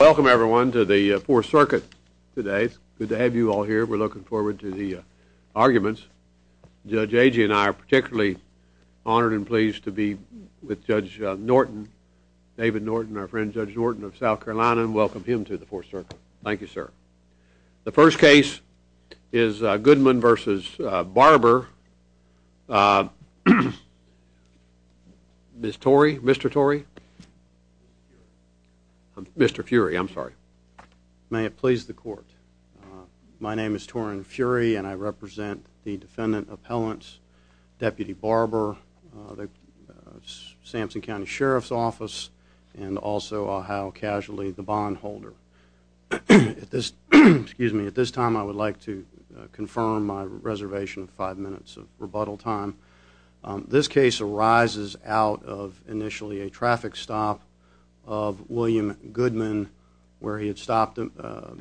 Welcome everyone to the Fourth Circuit today. Good to have you all here. We're looking forward to the arguments. Judge Agee and I are particularly honored and pleased to be with Judge Norton, David Norton, our friend Judge Norton of South Carolina, and welcome him to the Fourth Circuit. Thank you, sir. The first case is Goodman v. Barber. Miss Torrey? Mr. Torrey? Mr. Fury, I'm sorry. May it please the court. My name is Torren Fury and I represent the defendant appellants, Deputy Barber, the Sampson County Sheriff's Office, and also, I'll how casually, the bondholder. At this time I would like to confirm my reservation of five minutes of rebuttal time. This case arises out of initially a traffic stop of William Goodman, where he had stopped,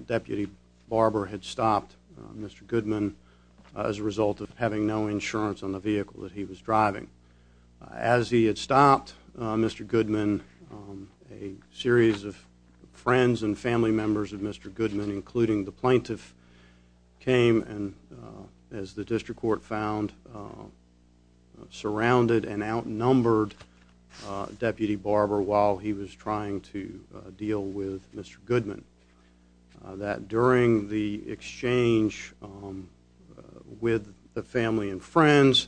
Deputy Barber had stopped Mr. Goodman as a result of having no insurance on the vehicle that he was driving. As he had stopped Mr. Goodman, a series of friends and family members of Mr. Goodman, including the plaintiff, came and, as the district court found, surrounded and outnumbered Deputy Barber while he was trying to deal with Mr. Goodman. That during the exchange with the family and friends,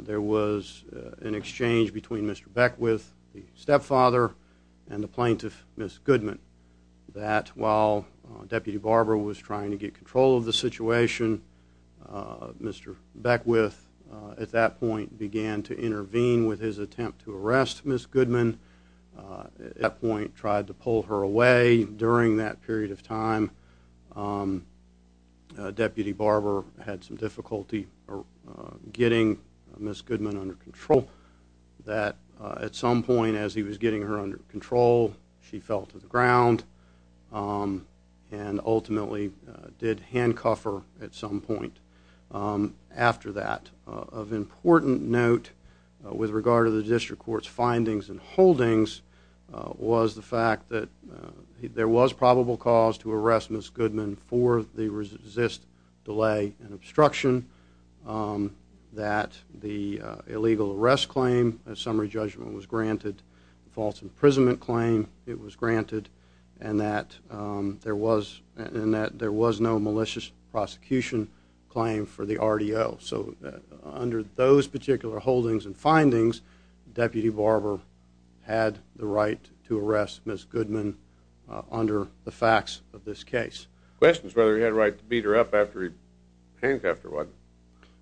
there was an exchange between Mr. Beckwith, the stepfather, and the plaintiff, Miss Goodman, that while Deputy Barber was trying to get control of the situation, Mr. Beckwith, at that point, began to intervene with his attempt to arrest Miss Goodman. At that point, tried to pull her away. During that period of time, Deputy Barber had some difficulty getting Miss Goodman under control. That at some point, as he was getting her under control, she fell to the ground and ultimately did handcuff her at some point after that. Of important note with regard to the district court's findings and holdings was the fact that there was probable cause to arrest Miss Goodman for the resist, delay, and obstruction, that the illegal arrest claim, a summary judgment was granted, false imprisonment claim, it was granted, and that there was no malicious prosecution claim for the RDO. So under those particular holdings and findings, Deputy Barber had the right to arrest Miss Goodman under the facts of this case. Questions whether he had a right to beat her up after he handcuffed her, wasn't it?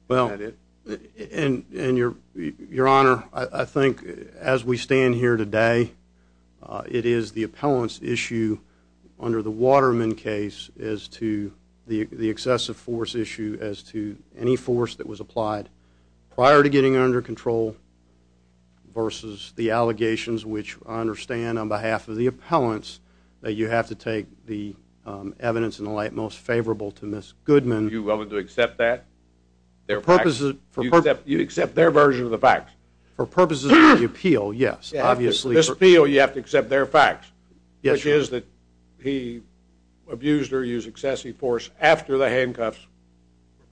Well, and Your Honor, I think as we stand here today, it is the appellant's issue under the Waterman case as to the excessive force issue as to any force that was applied prior to getting her under control versus the allegations which I understand on behalf of the appellants that you have to take the evidence in the light most favorable to Miss Goodman. You're willing to accept that? Their purposes, for purposes, You accept their version of the facts? For purposes of the appeal, yes, obviously. The appeal, you have to accept their facts, which is that he abused or used excessive force after the handcuffs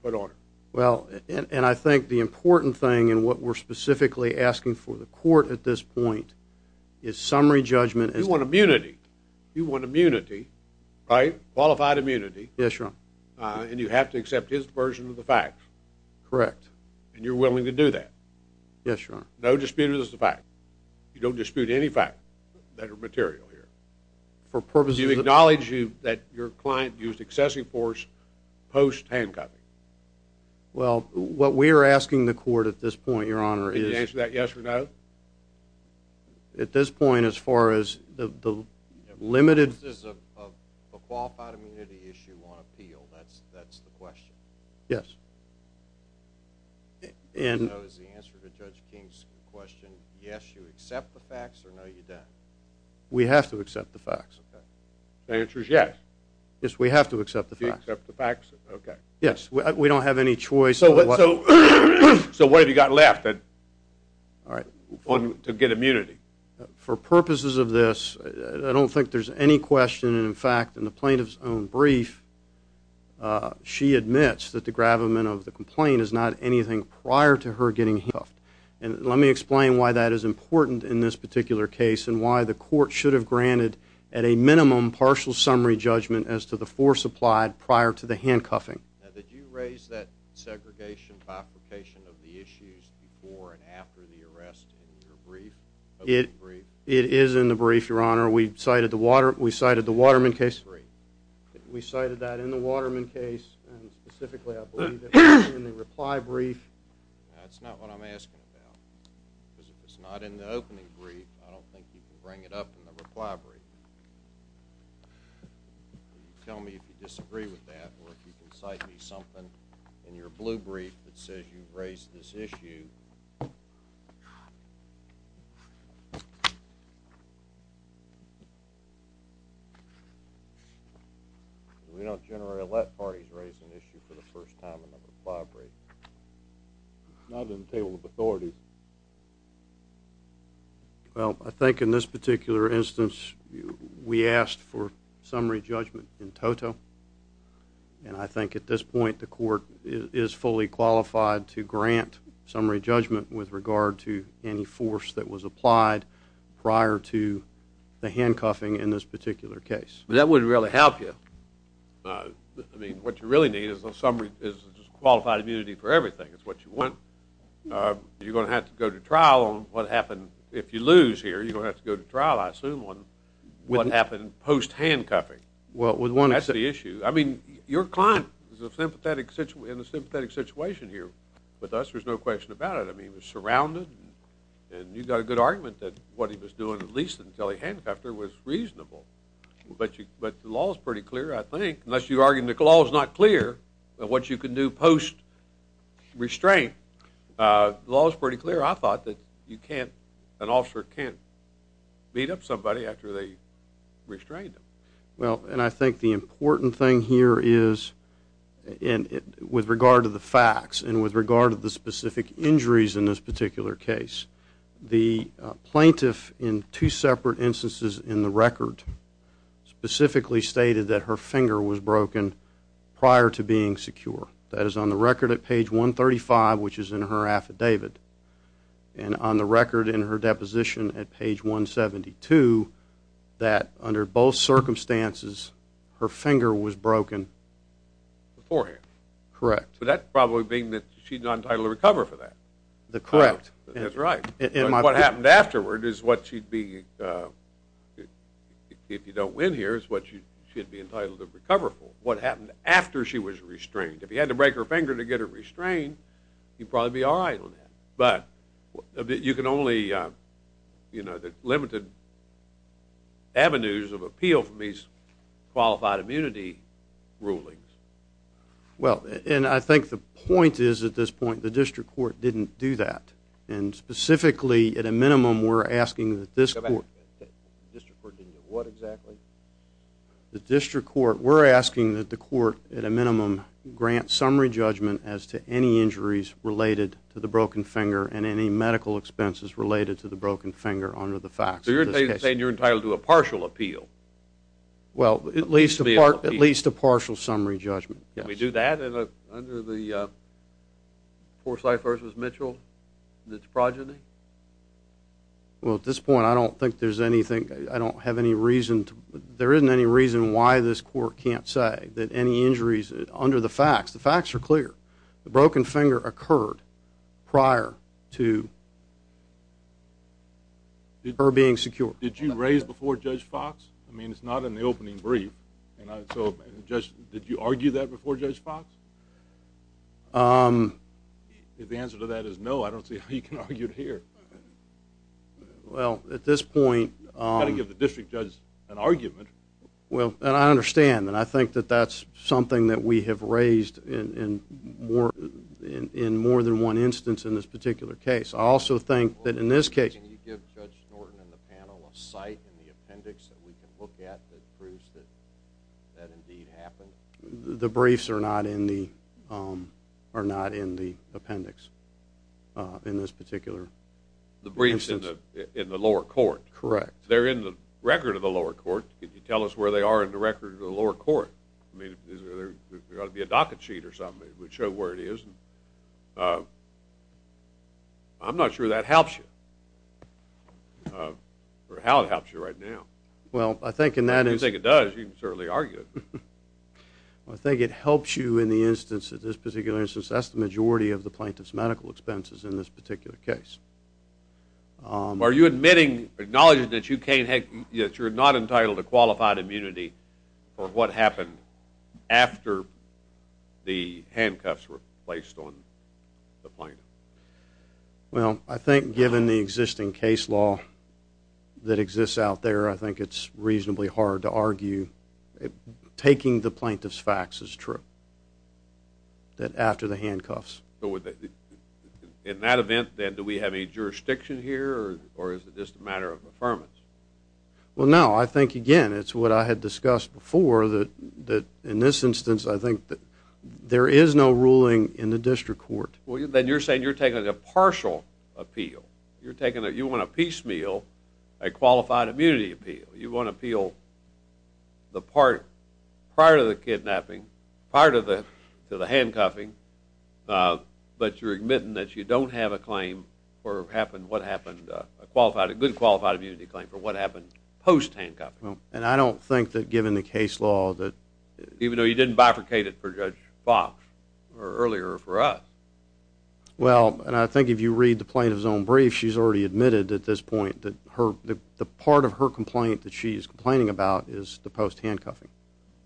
were put on her. Well, and I think the important thing and what we're specifically asking for the court at this point is summary judgment. You want immunity. You want immunity, right? Qualified immunity. Yes, Your Honor. And you have to accept his version of the facts? Correct. And you're willing to do that? Yes, Your Honor. No dispute of this is a fact. You don't dispute any fact that are material here? For purposes of the, Do you acknowledge that your client used excessive force post-handcuffing? Well, what we are asking the court at this point, Your Honor, is, Can you answer that yes or no? At this point, as far as the limited, This is a qualified immunity issue on appeal. That's the question. Yes. And, So, is the answer to Judge King's question, yes, you accept the facts or no, you don't? We have to accept the facts. Okay. The answer is yes. Yes, we have to accept the facts. You accept the facts? Okay. Yes. We don't have any choice. So, what have you got left? All right. To get immunity? For purposes of this, I don't think there's any question. In fact, in the plaintiff's own brief, She admits that the gravamen of the complaint is not anything prior to her getting handcuffed. And let me explain why that is important in this particular case, And why the court should have granted at a minimum partial summary judgment As to the force applied prior to the handcuffing. Now, did you raise that segregation by application of the issues Before and after the arrest in your brief? It is in the brief, Your Honor. We cited the Waterman case. We cited that in the Waterman case, And specifically, I believe, in the reply brief. That's not what I'm asking about. Because if it's not in the opening brief, I don't think you can bring it up in the reply brief. Tell me if you disagree with that, Or if you can cite me something in your blue brief That says you've raised this issue. We don't generally let parties raise an issue for the first time in a reply brief. It's not on the table of authority. Well, I think in this particular instance, We asked for summary judgment in toto. And I think at this point, The court is fully qualified to grant summary judgment With regard to any force that was applied Prior to the handcuffing in this particular case. That wouldn't really help you. I mean, what you really need is a summary, Is a qualified immunity for everything. It's what you want. You're going to have to go to trial on what happened. If you lose here, you're going to have to go to trial, I assume, On what happened post-handcuffing. That's the issue. I mean, your client is in a sympathetic situation here with us. There's no question about it. I mean, he was surrounded. And you've got a good argument that what he was doing, At least until he handcuffed her, was reasonable. But the law's pretty clear, I think. Unless you're arguing the law's not clear, But what you can do post-restraint, The law's pretty clear. I thought that an officer can't beat up somebody After they restrained them. Well, and I think the important thing here is, With regard to the facts And with regard to the specific injuries in this particular case, The plaintiff, in two separate instances in the record, Specifically stated that her finger was broken Prior to being secure. That is on the record at page 135, Which is in her affidavit. And on the record in her deposition at page 172, That under both circumstances, Her finger was broken beforehand. Correct. That probably being that she's not entitled to recover for that. Correct. That's right. What happened afterward is what she'd be, If you don't win here, Is what she'd be entitled to recover for. What happened after she was restrained. If you had to break her finger to get her restrained, You'd probably be all right on that. But you can only, You know, The limited avenues of appeal From these qualified immunity rulings. Well, and I think the point is, at this point, The district court didn't do that. And specifically, at a minimum, We're asking that this court, The district court didn't do what exactly? The district court, We're asking that the court, at a minimum, Grant summary judgment as to any injuries Related to the broken finger And any medical expenses related to the broken finger Under the facts of this case. So you're saying you're entitled to a partial appeal? Well, at least a partial summary judgment. Can we do that under the Forsyth v. Mitchell And its progeny? Well, at this point, I don't think there's anything, I don't have any reason, There isn't any reason why this court can't say That any injuries under the facts, The facts are clear. The broken finger occurred prior to her being secure. Did you raise before Judge Fox? I mean, it's not in the opening brief. And so, Judge, did you argue that before Judge Fox? If the answer to that is no, I don't see how you can argue it here. Well, at this point... You've got to give the district judge an argument. Well, and I understand, And I think that that's something that we have raised In more than one instance in this particular case. I also think that in this case... Can you give Judge Norton and the panel a site In the appendix that we can look at That proves that that indeed happened? The briefs are not in the appendix In this particular instance. The briefs in the lower court. Correct. They're in the record of the lower court. Can you tell us where they are in the record of the lower court? I mean, there's got to be a docket sheet or something That would show where it is. I'm not sure that helps you. Or how it helps you right now. Well, I think in that instance... If you think it does, you can certainly argue it. I think it helps you in the instance, In this particular instance, That's the majority of the plaintiff's medical expenses In this particular case. Are you admitting, acknowledging that you're not entitled To qualified immunity for what happened After the handcuffs were placed on the plaintiff? Well, I think given the existing case law That exists out there, I think it's reasonably hard to argue. Taking the plaintiff's facts is true. That after the handcuffs... In that event, then, do we have any jurisdiction here? Or is it just a matter of affirmance? Well, no. I think, again, it's what I had discussed before, That in this instance, I think that There is no ruling in the district court. Well, then you're saying you're taking a partial appeal. You're taking a... You want to piecemeal a qualified immunity appeal. You want to appeal the part... Part of the handcuffing. But you're admitting that you don't have a claim For what happened... A good qualified immunity claim For what happened post-handcuffing. And I don't think that given the case law that... Even though you didn't bifurcate it for Judge Fox Or earlier for us. Well, and I think if you read the plaintiff's own brief, She's already admitted at this point That the part of her complaint that she's complaining about Is the post-handcuffing.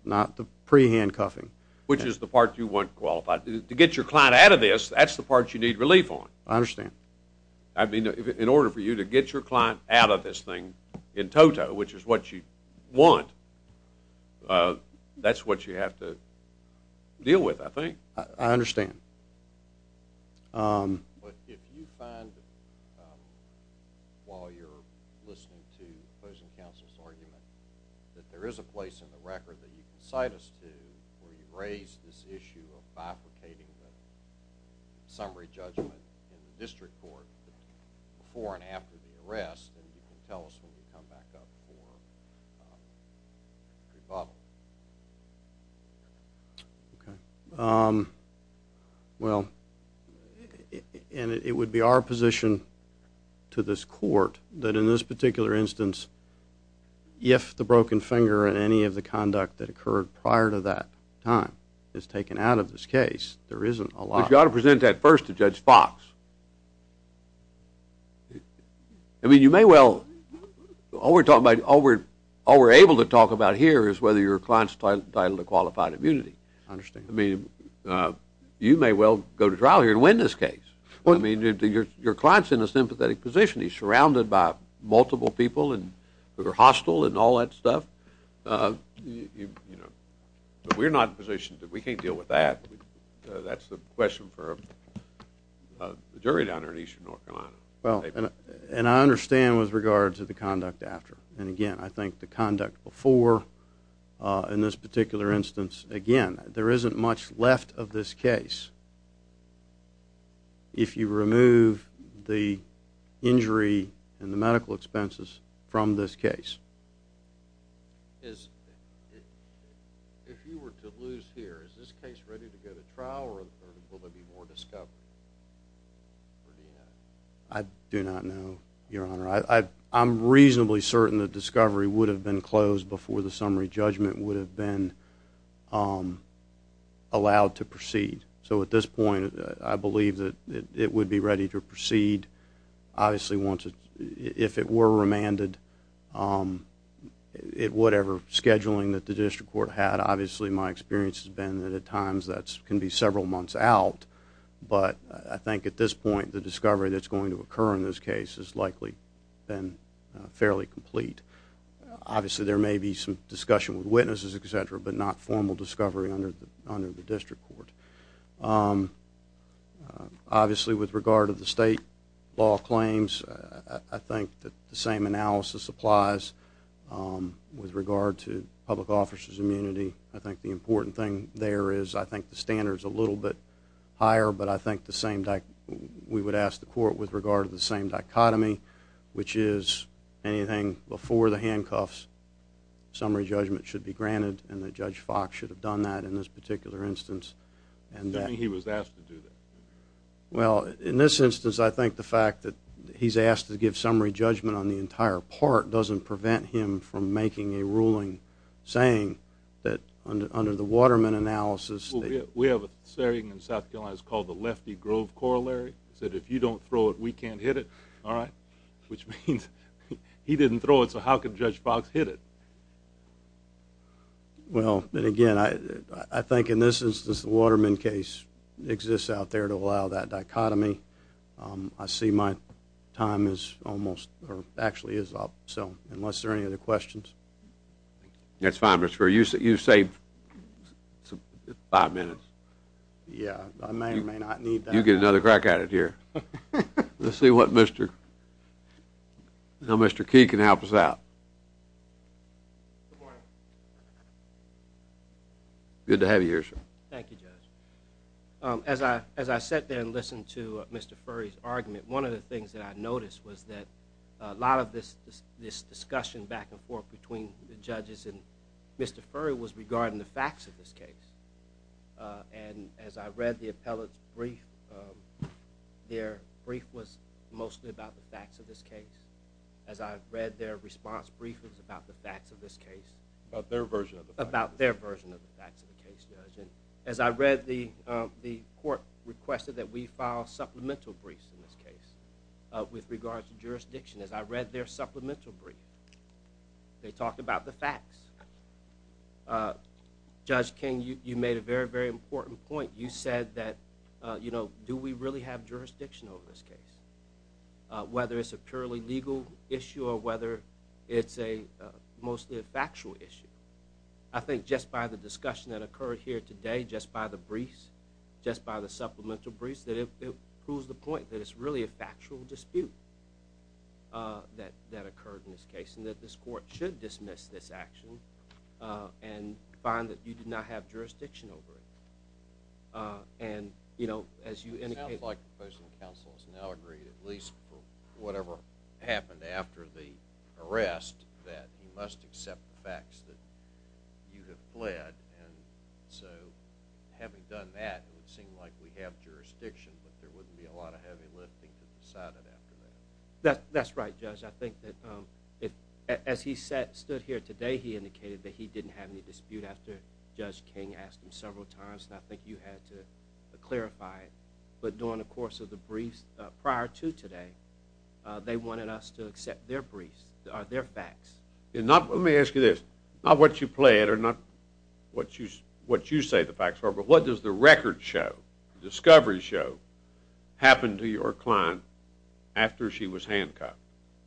Not the pre-handcuffing. Which is the part you want qualified. To get your client out of this, That's the part you need relief on. I understand. I mean, in order for you to get your client out of this thing In toto, which is what you want, That's what you have to deal with, I think. But if you find... While you're listening to opposing counsel's argument That there is a place in the record that you can cite us to Where you raise this issue of bifurcating The summary judgment in the district court Before and after the arrest, Then you can tell us when we come back up for rebuttal. Okay. Well... And it would be our position to this court That in this particular instance, If the broken finger in any of the conduct That occurred prior to that time Is taken out of this case, There isn't a lot... But you ought to present that first to Judge Fox. I mean, you may well... All we're able to talk about here Is whether your client's entitled to qualified immunity. I understand. I mean, you may well go to trial here and win this case. I mean, your client's in a sympathetic position. He's surrounded by multiple people Who are hostile and all that stuff. But we're not in a position... We can't deal with that. That's the question for the jury down here in eastern North Carolina. Well, and I understand with regard to the conduct after. And again, I think the conduct before In this particular instance, Again, there isn't much left of this case. If you remove the injury and the medical expenses From this case. If you were to lose here, Is this case ready to go to trial? Or will there be more discovery? I do not know, Your Honor. I'm reasonably certain that discovery would have been closed Before the summary judgment would have been Allowed to proceed. So at this point, I believe that it would be ready to proceed. Obviously, if it were remanded, Whatever scheduling that the district court had, Obviously, my experience has been that at times That can be several months out. But I think at this point, The discovery that's going to occur in this case Has likely been fairly complete. Obviously, there may be some discussion with witnesses, etc. But not formal discovery under the district court. Obviously, with regard to the state law claims, I think that the same analysis applies With regard to public officers' immunity. I think the important thing there is I think the standard's a little bit higher, But I think we would ask the court With regard to the same dichotomy, Which is anything before the handcuffs, Summary judgment should be granted, And that Judge Fox should have done that In this particular instance. You don't think he was asked to do that? Well, in this instance, I think the fact that He's asked to give summary judgment on the entire part Doesn't prevent him from making a ruling Saying that under the Waterman analysis... We have a saying in South Carolina It's called the Lefty Grove Corollary. It's that if you don't throw it, we can't hit it. All right? Which means he didn't throw it, So how could Judge Fox hit it? Well, then again, I think in this instance The Waterman case exists out there To allow that dichotomy. I see my time is almost... Or actually is up, so... Unless there are any other questions. That's fine, Mr. Murray. You've saved five minutes. Yeah, I may or may not need that. You get another crack at it here. Let's see what Mr... How Mr. Key can help us out. Good morning. Good to have you here, sir. Thank you, Judge. As I sat there and listened to Mr. Furry's argument, One of the things that I noticed Was that a lot of this discussion Back and forth between the judges and Mr. Furry Was regarding the facts of this case. And as I read the appellate's brief, Their brief was mostly about the facts of this case. As I read their response brief, It was about the facts of this case. About their version of the facts. About their version of the facts of the case, Judge. As I read, the court requested That we file supplemental briefs in this case With regards to jurisdiction. As I read their supplemental brief, They talked about the facts. Judge King, you made a very, very important point. You said that, you know, Do we really have jurisdiction over this case? Whether it's a purely legal issue Or whether it's mostly a factual issue. I think just by the discussion that occurred here today, Just by the briefs, just by the supplemental briefs, It proves the point that it's really a factual dispute That occurred in this case. And that this court should dismiss this action And find that you do not have jurisdiction over it. And, you know, as you indicated... At least for whatever happened after the arrest, That you must accept the facts that you have fled. And so, having done that, It would seem like we have jurisdiction, But there wouldn't be a lot of heavy lifting To decide it after that. That's right, Judge. I think that as he stood here today, He indicated that he didn't have any dispute After Judge King asked him several times. And I think you had to clarify it. But during the course of the briefs, Prior to today, They wanted us to accept their briefs, their facts. Let me ask you this. Not what you plead, Or not what you say the facts are, But what does the record show, the discovery show, Happen to your client after she was handcuffed?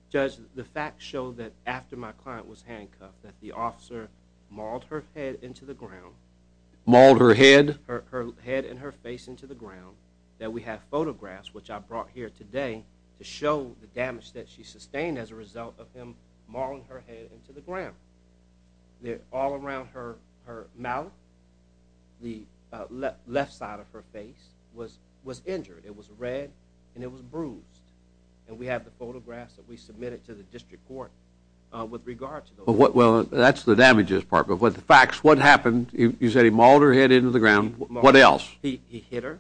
Judge, the facts show that after my client was handcuffed, That the officer mauled her head into the ground. Mauled her head? Her head and her face into the ground. That we have photographs, which I brought here today, To show the damage that she sustained As a result of him mauling her head into the ground. All around her mouth, The left side of her face, Was injured. It was red, and it was bruised. And we have the photographs that we submitted To the district court with regard to those. Well, that's the damages part. But with the facts, what happened? You said he mauled her head into the ground. What else? He hit her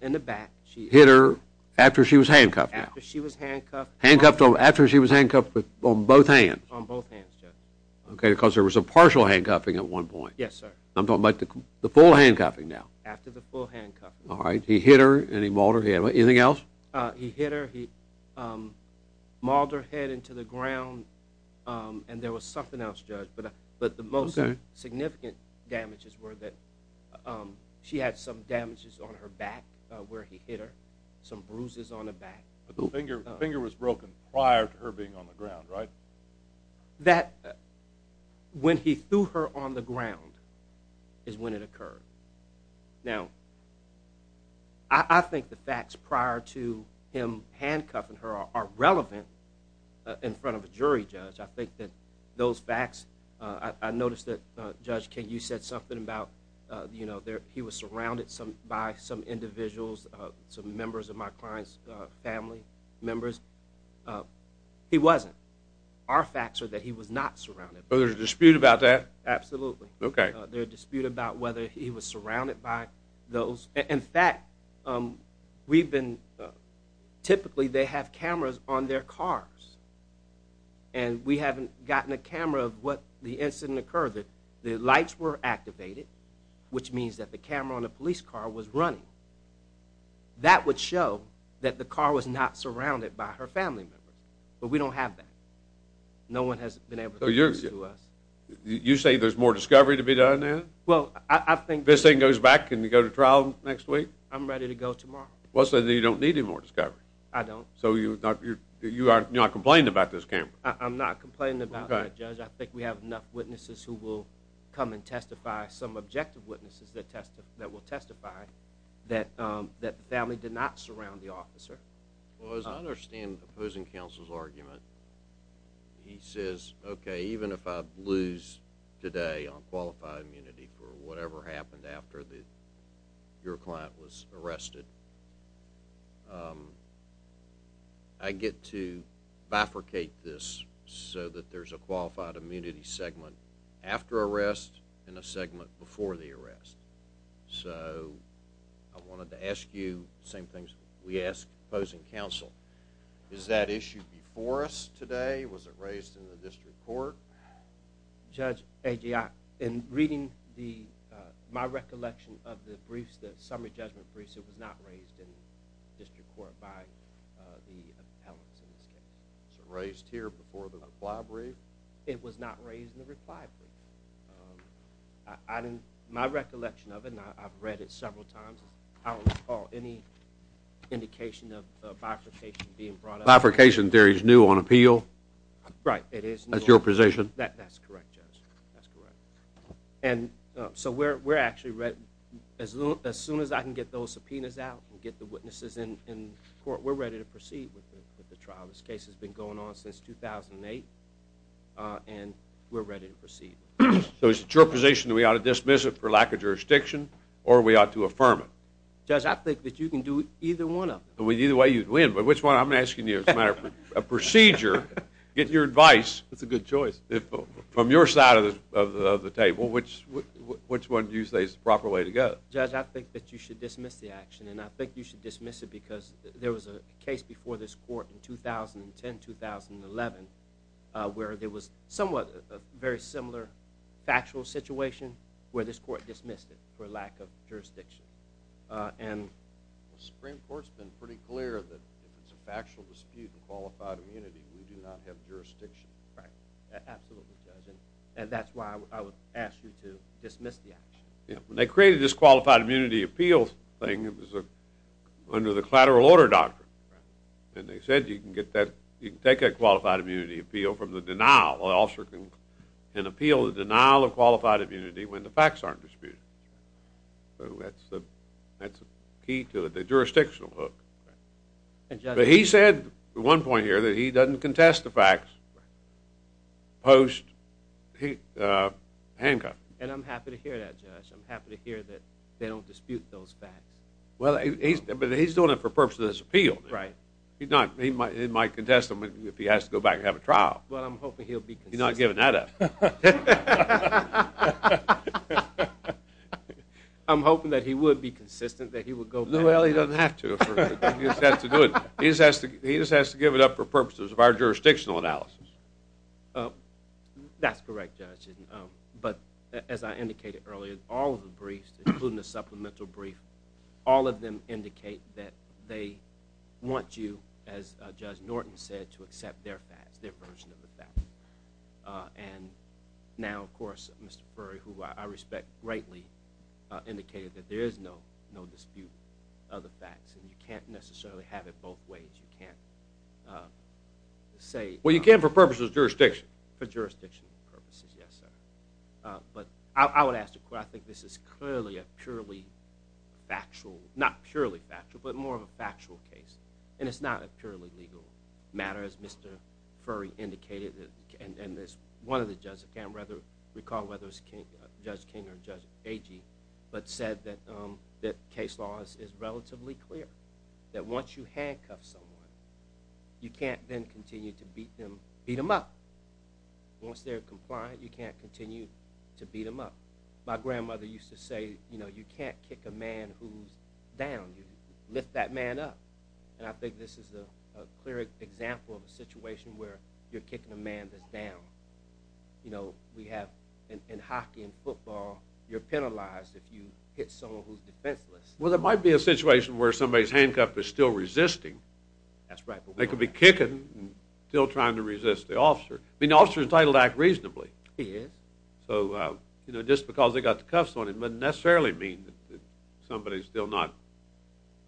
in the back. He hit her after she was handcuffed? After she was handcuffed. After she was handcuffed on both hands? On both hands, Judge. Okay, because there was a partial handcuffing at one point. Yes, sir. I'm talking about the full handcuffing now. After the full handcuffing. All right. He hit her, and he mauled her head. Anything else? He hit her. He mauled her head into the ground. And there was something else, Judge. But the most significant damages Were that she had some damages on her back where he hit her. Some bruises on her back. The finger was broken prior to her being on the ground, right? That when he threw her on the ground is when it occurred. Now, I think the facts prior to him handcuffing her Are relevant in front of a jury, Judge. I think that those facts – I noticed that, Judge King, you said something about He was surrounded by some individuals, Some members of my client's family members. He wasn't. Our facts are that he was not surrounded. So there's a dispute about that? Absolutely. Okay. There's a dispute about whether he was surrounded by those. In fact, we've been – Typically, they have cameras on their cars. And we haven't gotten a camera of what the incident occurred. The lights were activated, Which means that the camera on the police car was running. That would show that the car was not surrounded by her family members. But we don't have that. No one has been able to prove it to us. You say there's more discovery to be done now? Well, I think – If this thing goes back, can you go to trial next week? I'm ready to go tomorrow. Well, so then you don't need any more discovery. I don't. So you are not complaining about this camera? I'm not complaining about that, Judge. I think we have enough witnesses who will come and testify, Some objective witnesses that will testify, That the family did not surround the officer. Well, as I understand the opposing counsel's argument, He says, okay, even if I lose today on qualified immunity For whatever happened after your client was arrested, I get to bifurcate this So that there's a qualified immunity segment after arrest And a segment before the arrest. So I wanted to ask you the same things we ask opposing counsel. Is that issue before us today? Was it raised in the district court? Judge, in reading my recollection of the briefs, The summary judgment briefs, It was not raised in the district court by the appellants in this case. It was raised here before the reply brief? It was not raised in the reply brief. My recollection of it, and I've read it several times, I don't recall any indication of bifurcation being brought up. Right, it is new. That's your position? That's correct, Judge. That's correct. And so we're actually ready, As soon as I can get those subpoenas out, And get the witnesses in court, We're ready to proceed with the trial. This case has been going on since 2008, And we're ready to proceed. So it's your position that we ought to dismiss it for lack of jurisdiction, Or we ought to affirm it? Judge, I think that you can do either one of them. Either way you'd win, but which one? I'm asking you as a matter of procedure. Get your advice. That's a good choice. From your side of the table, Which one do you say is the proper way to go? Judge, I think that you should dismiss the action, And I think you should dismiss it, Because there was a case before this court in 2010-2011, Where there was somewhat a very similar factual situation, Where this court dismissed it for lack of jurisdiction. The Supreme Court's been pretty clear that If it's a factual dispute of qualified immunity, We do not have jurisdiction. Right. Absolutely, Judge. And that's why I would ask you to dismiss the action. Yeah. When they created this qualified immunity appeals thing, It was under the collateral order doctrine. And they said you can get that, You can take a qualified immunity appeal from the denial. An officer can appeal the denial of qualified immunity When the facts aren't disputed. So that's the key to it, the jurisdictional hook. But he said, at one point here, That he doesn't contest the facts post-handcuff. And I'm happy to hear that, Judge. I'm happy to hear that they don't dispute those facts. But he's doing it for the purpose of this appeal. He might contest them if he has to go back and have a trial. Well, I'm hoping he'll be consistent. He's not giving that up. I'm hoping that he would be consistent, That he would go back. Well, he doesn't have to. He just has to do it. He just has to give it up for purposes of our jurisdictional analysis. That's correct, Judge. But as I indicated earlier, All of the briefs, including the supplemental brief, All of them indicate that they want you, As Judge Norton said, to accept their facts, Their version of the facts. And now, of course, Mr. Furry, Who I respect greatly, Indicated that there is no dispute of the facts. And you can't necessarily have it both ways. You can't say... Well, you can for purposes of jurisdiction. For jurisdictional purposes, yes, sir. But I would ask the court, I think this is clearly a purely factual, Not purely factual, But more of a factual case. And it's not a purely legal matter, As Mr. Furry indicated. And as one of the judges, I can't recall whether it was Judge King or Judge Agee, But said that case law is relatively clear. That once you handcuff someone, You can't then continue to beat them up. Once they're compliant, You can't continue to beat them up. My grandmother used to say, You can't kick a man who's down. You lift that man up. Where you're kicking a man that's down. You know, we have... In hockey and football, You're penalized if you hit someone who's defenseless. Well, there might be a situation Where somebody's handcuff is still resisting. That's right. They could be kicking, Still trying to resist the officer. I mean, the officer's entitled to act reasonably. He is. So, you know, Just because they got the cuffs on him Doesn't necessarily mean that Somebody's still not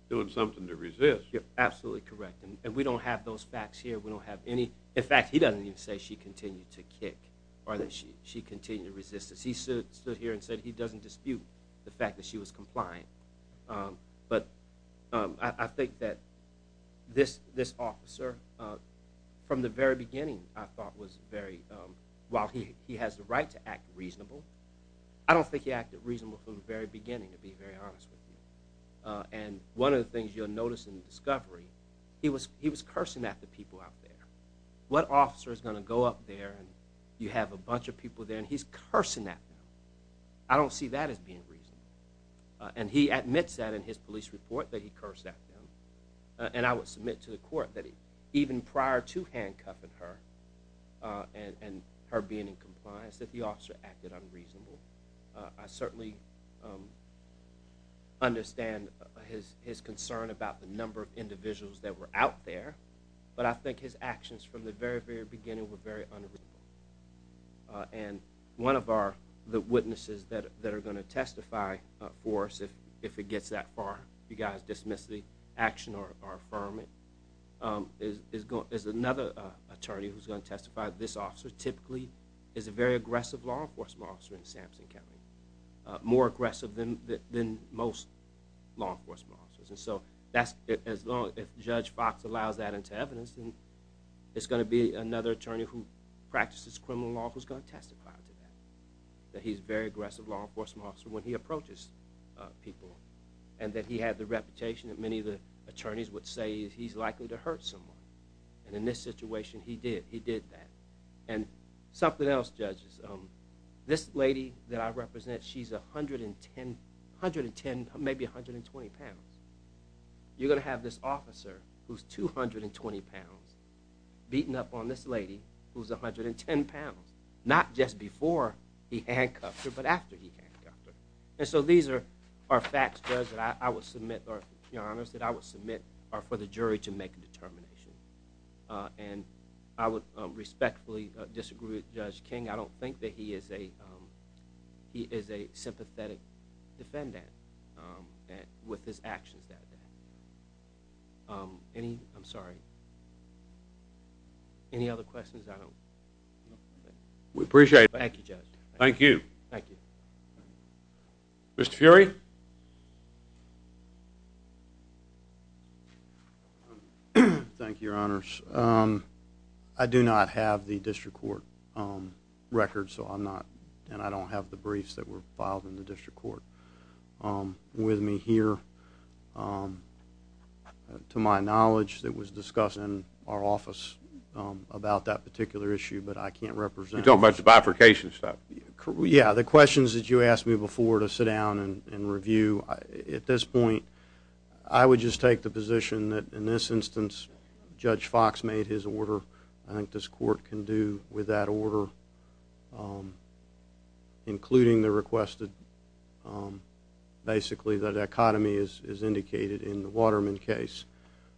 doing something to resist. Absolutely correct. And we don't have those facts here. We don't have any... In fact, he doesn't even say she continued to kick. Or that she continued to resist. He stood here and said he doesn't dispute The fact that she was compliant. But I think that this officer, From the very beginning, I thought was very... While he has the right to act reasonable, I don't think he acted reasonable From the very beginning, To be very honest with you. And one of the things you'll notice in the discovery, He was cursing at the people out there. What officer is going to go up there And you have a bunch of people there And he's cursing at them. I don't see that as being reasonable. And he admits that in his police report, That he cursed at them. And I would submit to the court That even prior to handcuffing her, And her being in compliance, That the officer acted unreasonable. I certainly understand his concern About the number of individuals that were out there. But I think his actions from the very, very beginning Were very unreasonable. And one of the witnesses that are going to testify for us, If it gets that far, If you guys dismiss the action or affirm it, Is another attorney who's going to testify. This officer typically is a very aggressive Law enforcement officer in Sampson County. More aggressive than most law enforcement officers. If Judge Fox allows that into evidence, It's going to be another attorney Who practices criminal law Who's going to testify to that. That he's a very aggressive law enforcement officer When he approaches people. And that he had the reputation That many of the attorneys would say He's likely to hurt someone. And in this situation, he did. He did that. And something else, judges. This lady that I represent, She's 110, maybe 120 pounds. You're going to have this officer Who's 220 pounds Beating up on this lady Who's 110 pounds. Not just before he handcuffed her, But after he handcuffed her. And so these are facts, Judge, That I would submit for the jury To make a determination. And I would respectfully disagree with Judge King. I don't think that he is a sympathetic defendant With his actions that day. I'm sorry. Any other questions? We appreciate it. Thank you, Judge. Thank you. Mr. Fury? Thank you, Your Honors. I do not have the district court record, So I'm not, and I don't have the briefs That were filed in the district court. With me here, to my knowledge, That was discussed in our office About that particular issue, But I can't represent it. You don't mention bifurcation stuff? Yeah, the questions that you asked me before To sit down and review, At this point, I would just take the position That in this instance, Judge Fox made his order. I think this court can do with that order, Including the requested, basically, The dichotomy as indicated in the Waterman case,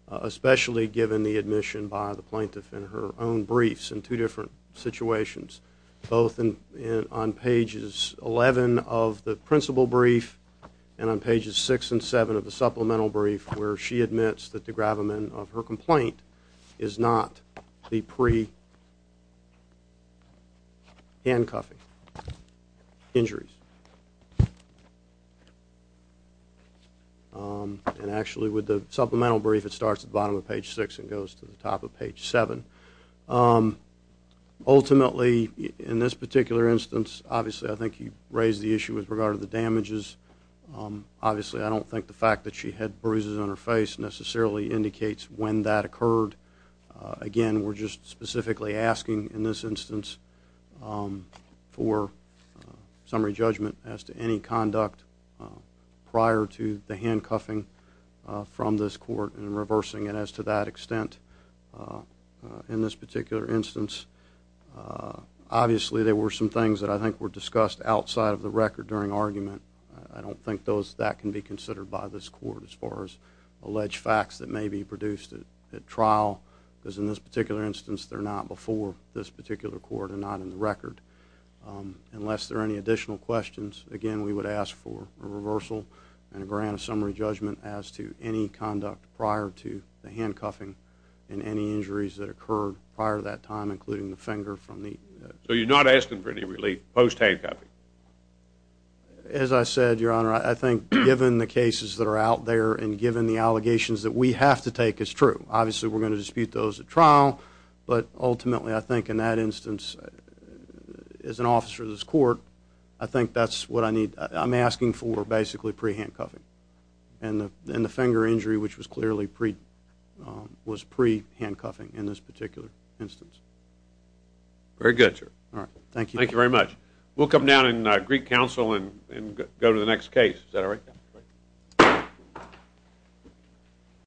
Especially given the admission by the plaintiff In her own briefs in two different situations, Both on pages 11 of the principal brief And on pages 6 and 7 of the supplemental brief, Where she admits that the gravamen of her complaint Is not the pre-handcuffing injuries. And actually, with the supplemental brief, It starts at the bottom of page 6 And goes to the top of page 7. Ultimately, in this particular instance, Obviously, I think you raised the issue With regard to the damages. Obviously, I don't think the fact that she had bruises on her face Necessarily indicates when that occurred. Again, we're just specifically asking, in this instance, For summary judgment as to any conduct Prior to the handcuffing from this court And reversing it as to that extent. In this particular instance, Obviously, there were some things that I think were discussed Outside of the record during argument. I don't think that can be considered by this court As far as alleged facts that may be produced at trial. Because in this particular instance, They're not before this particular court And not in the record. Unless there are any additional questions, Again, we would ask for a reversal And a grant of summary judgment As to any conduct prior to the handcuffing And any injuries that occurred prior to that time, Including the finger from the... So you're not asking for any relief post-handcuffing? As I said, Your Honor, I think, given the cases that are out there And given the allegations that we have to take, it's true. Obviously, we're going to dispute those at trial, But ultimately, I think in that instance, As an officer of this court, I think that's what I need... I'm asking for, basically, pre-handcuffing. And the finger injury, which was clearly pre... Was pre-handcuffing in this particular instance. Very good, sir. All right. Thank you. Thank you very much. We'll come down in Greek Council and go to the next case. Is that all right?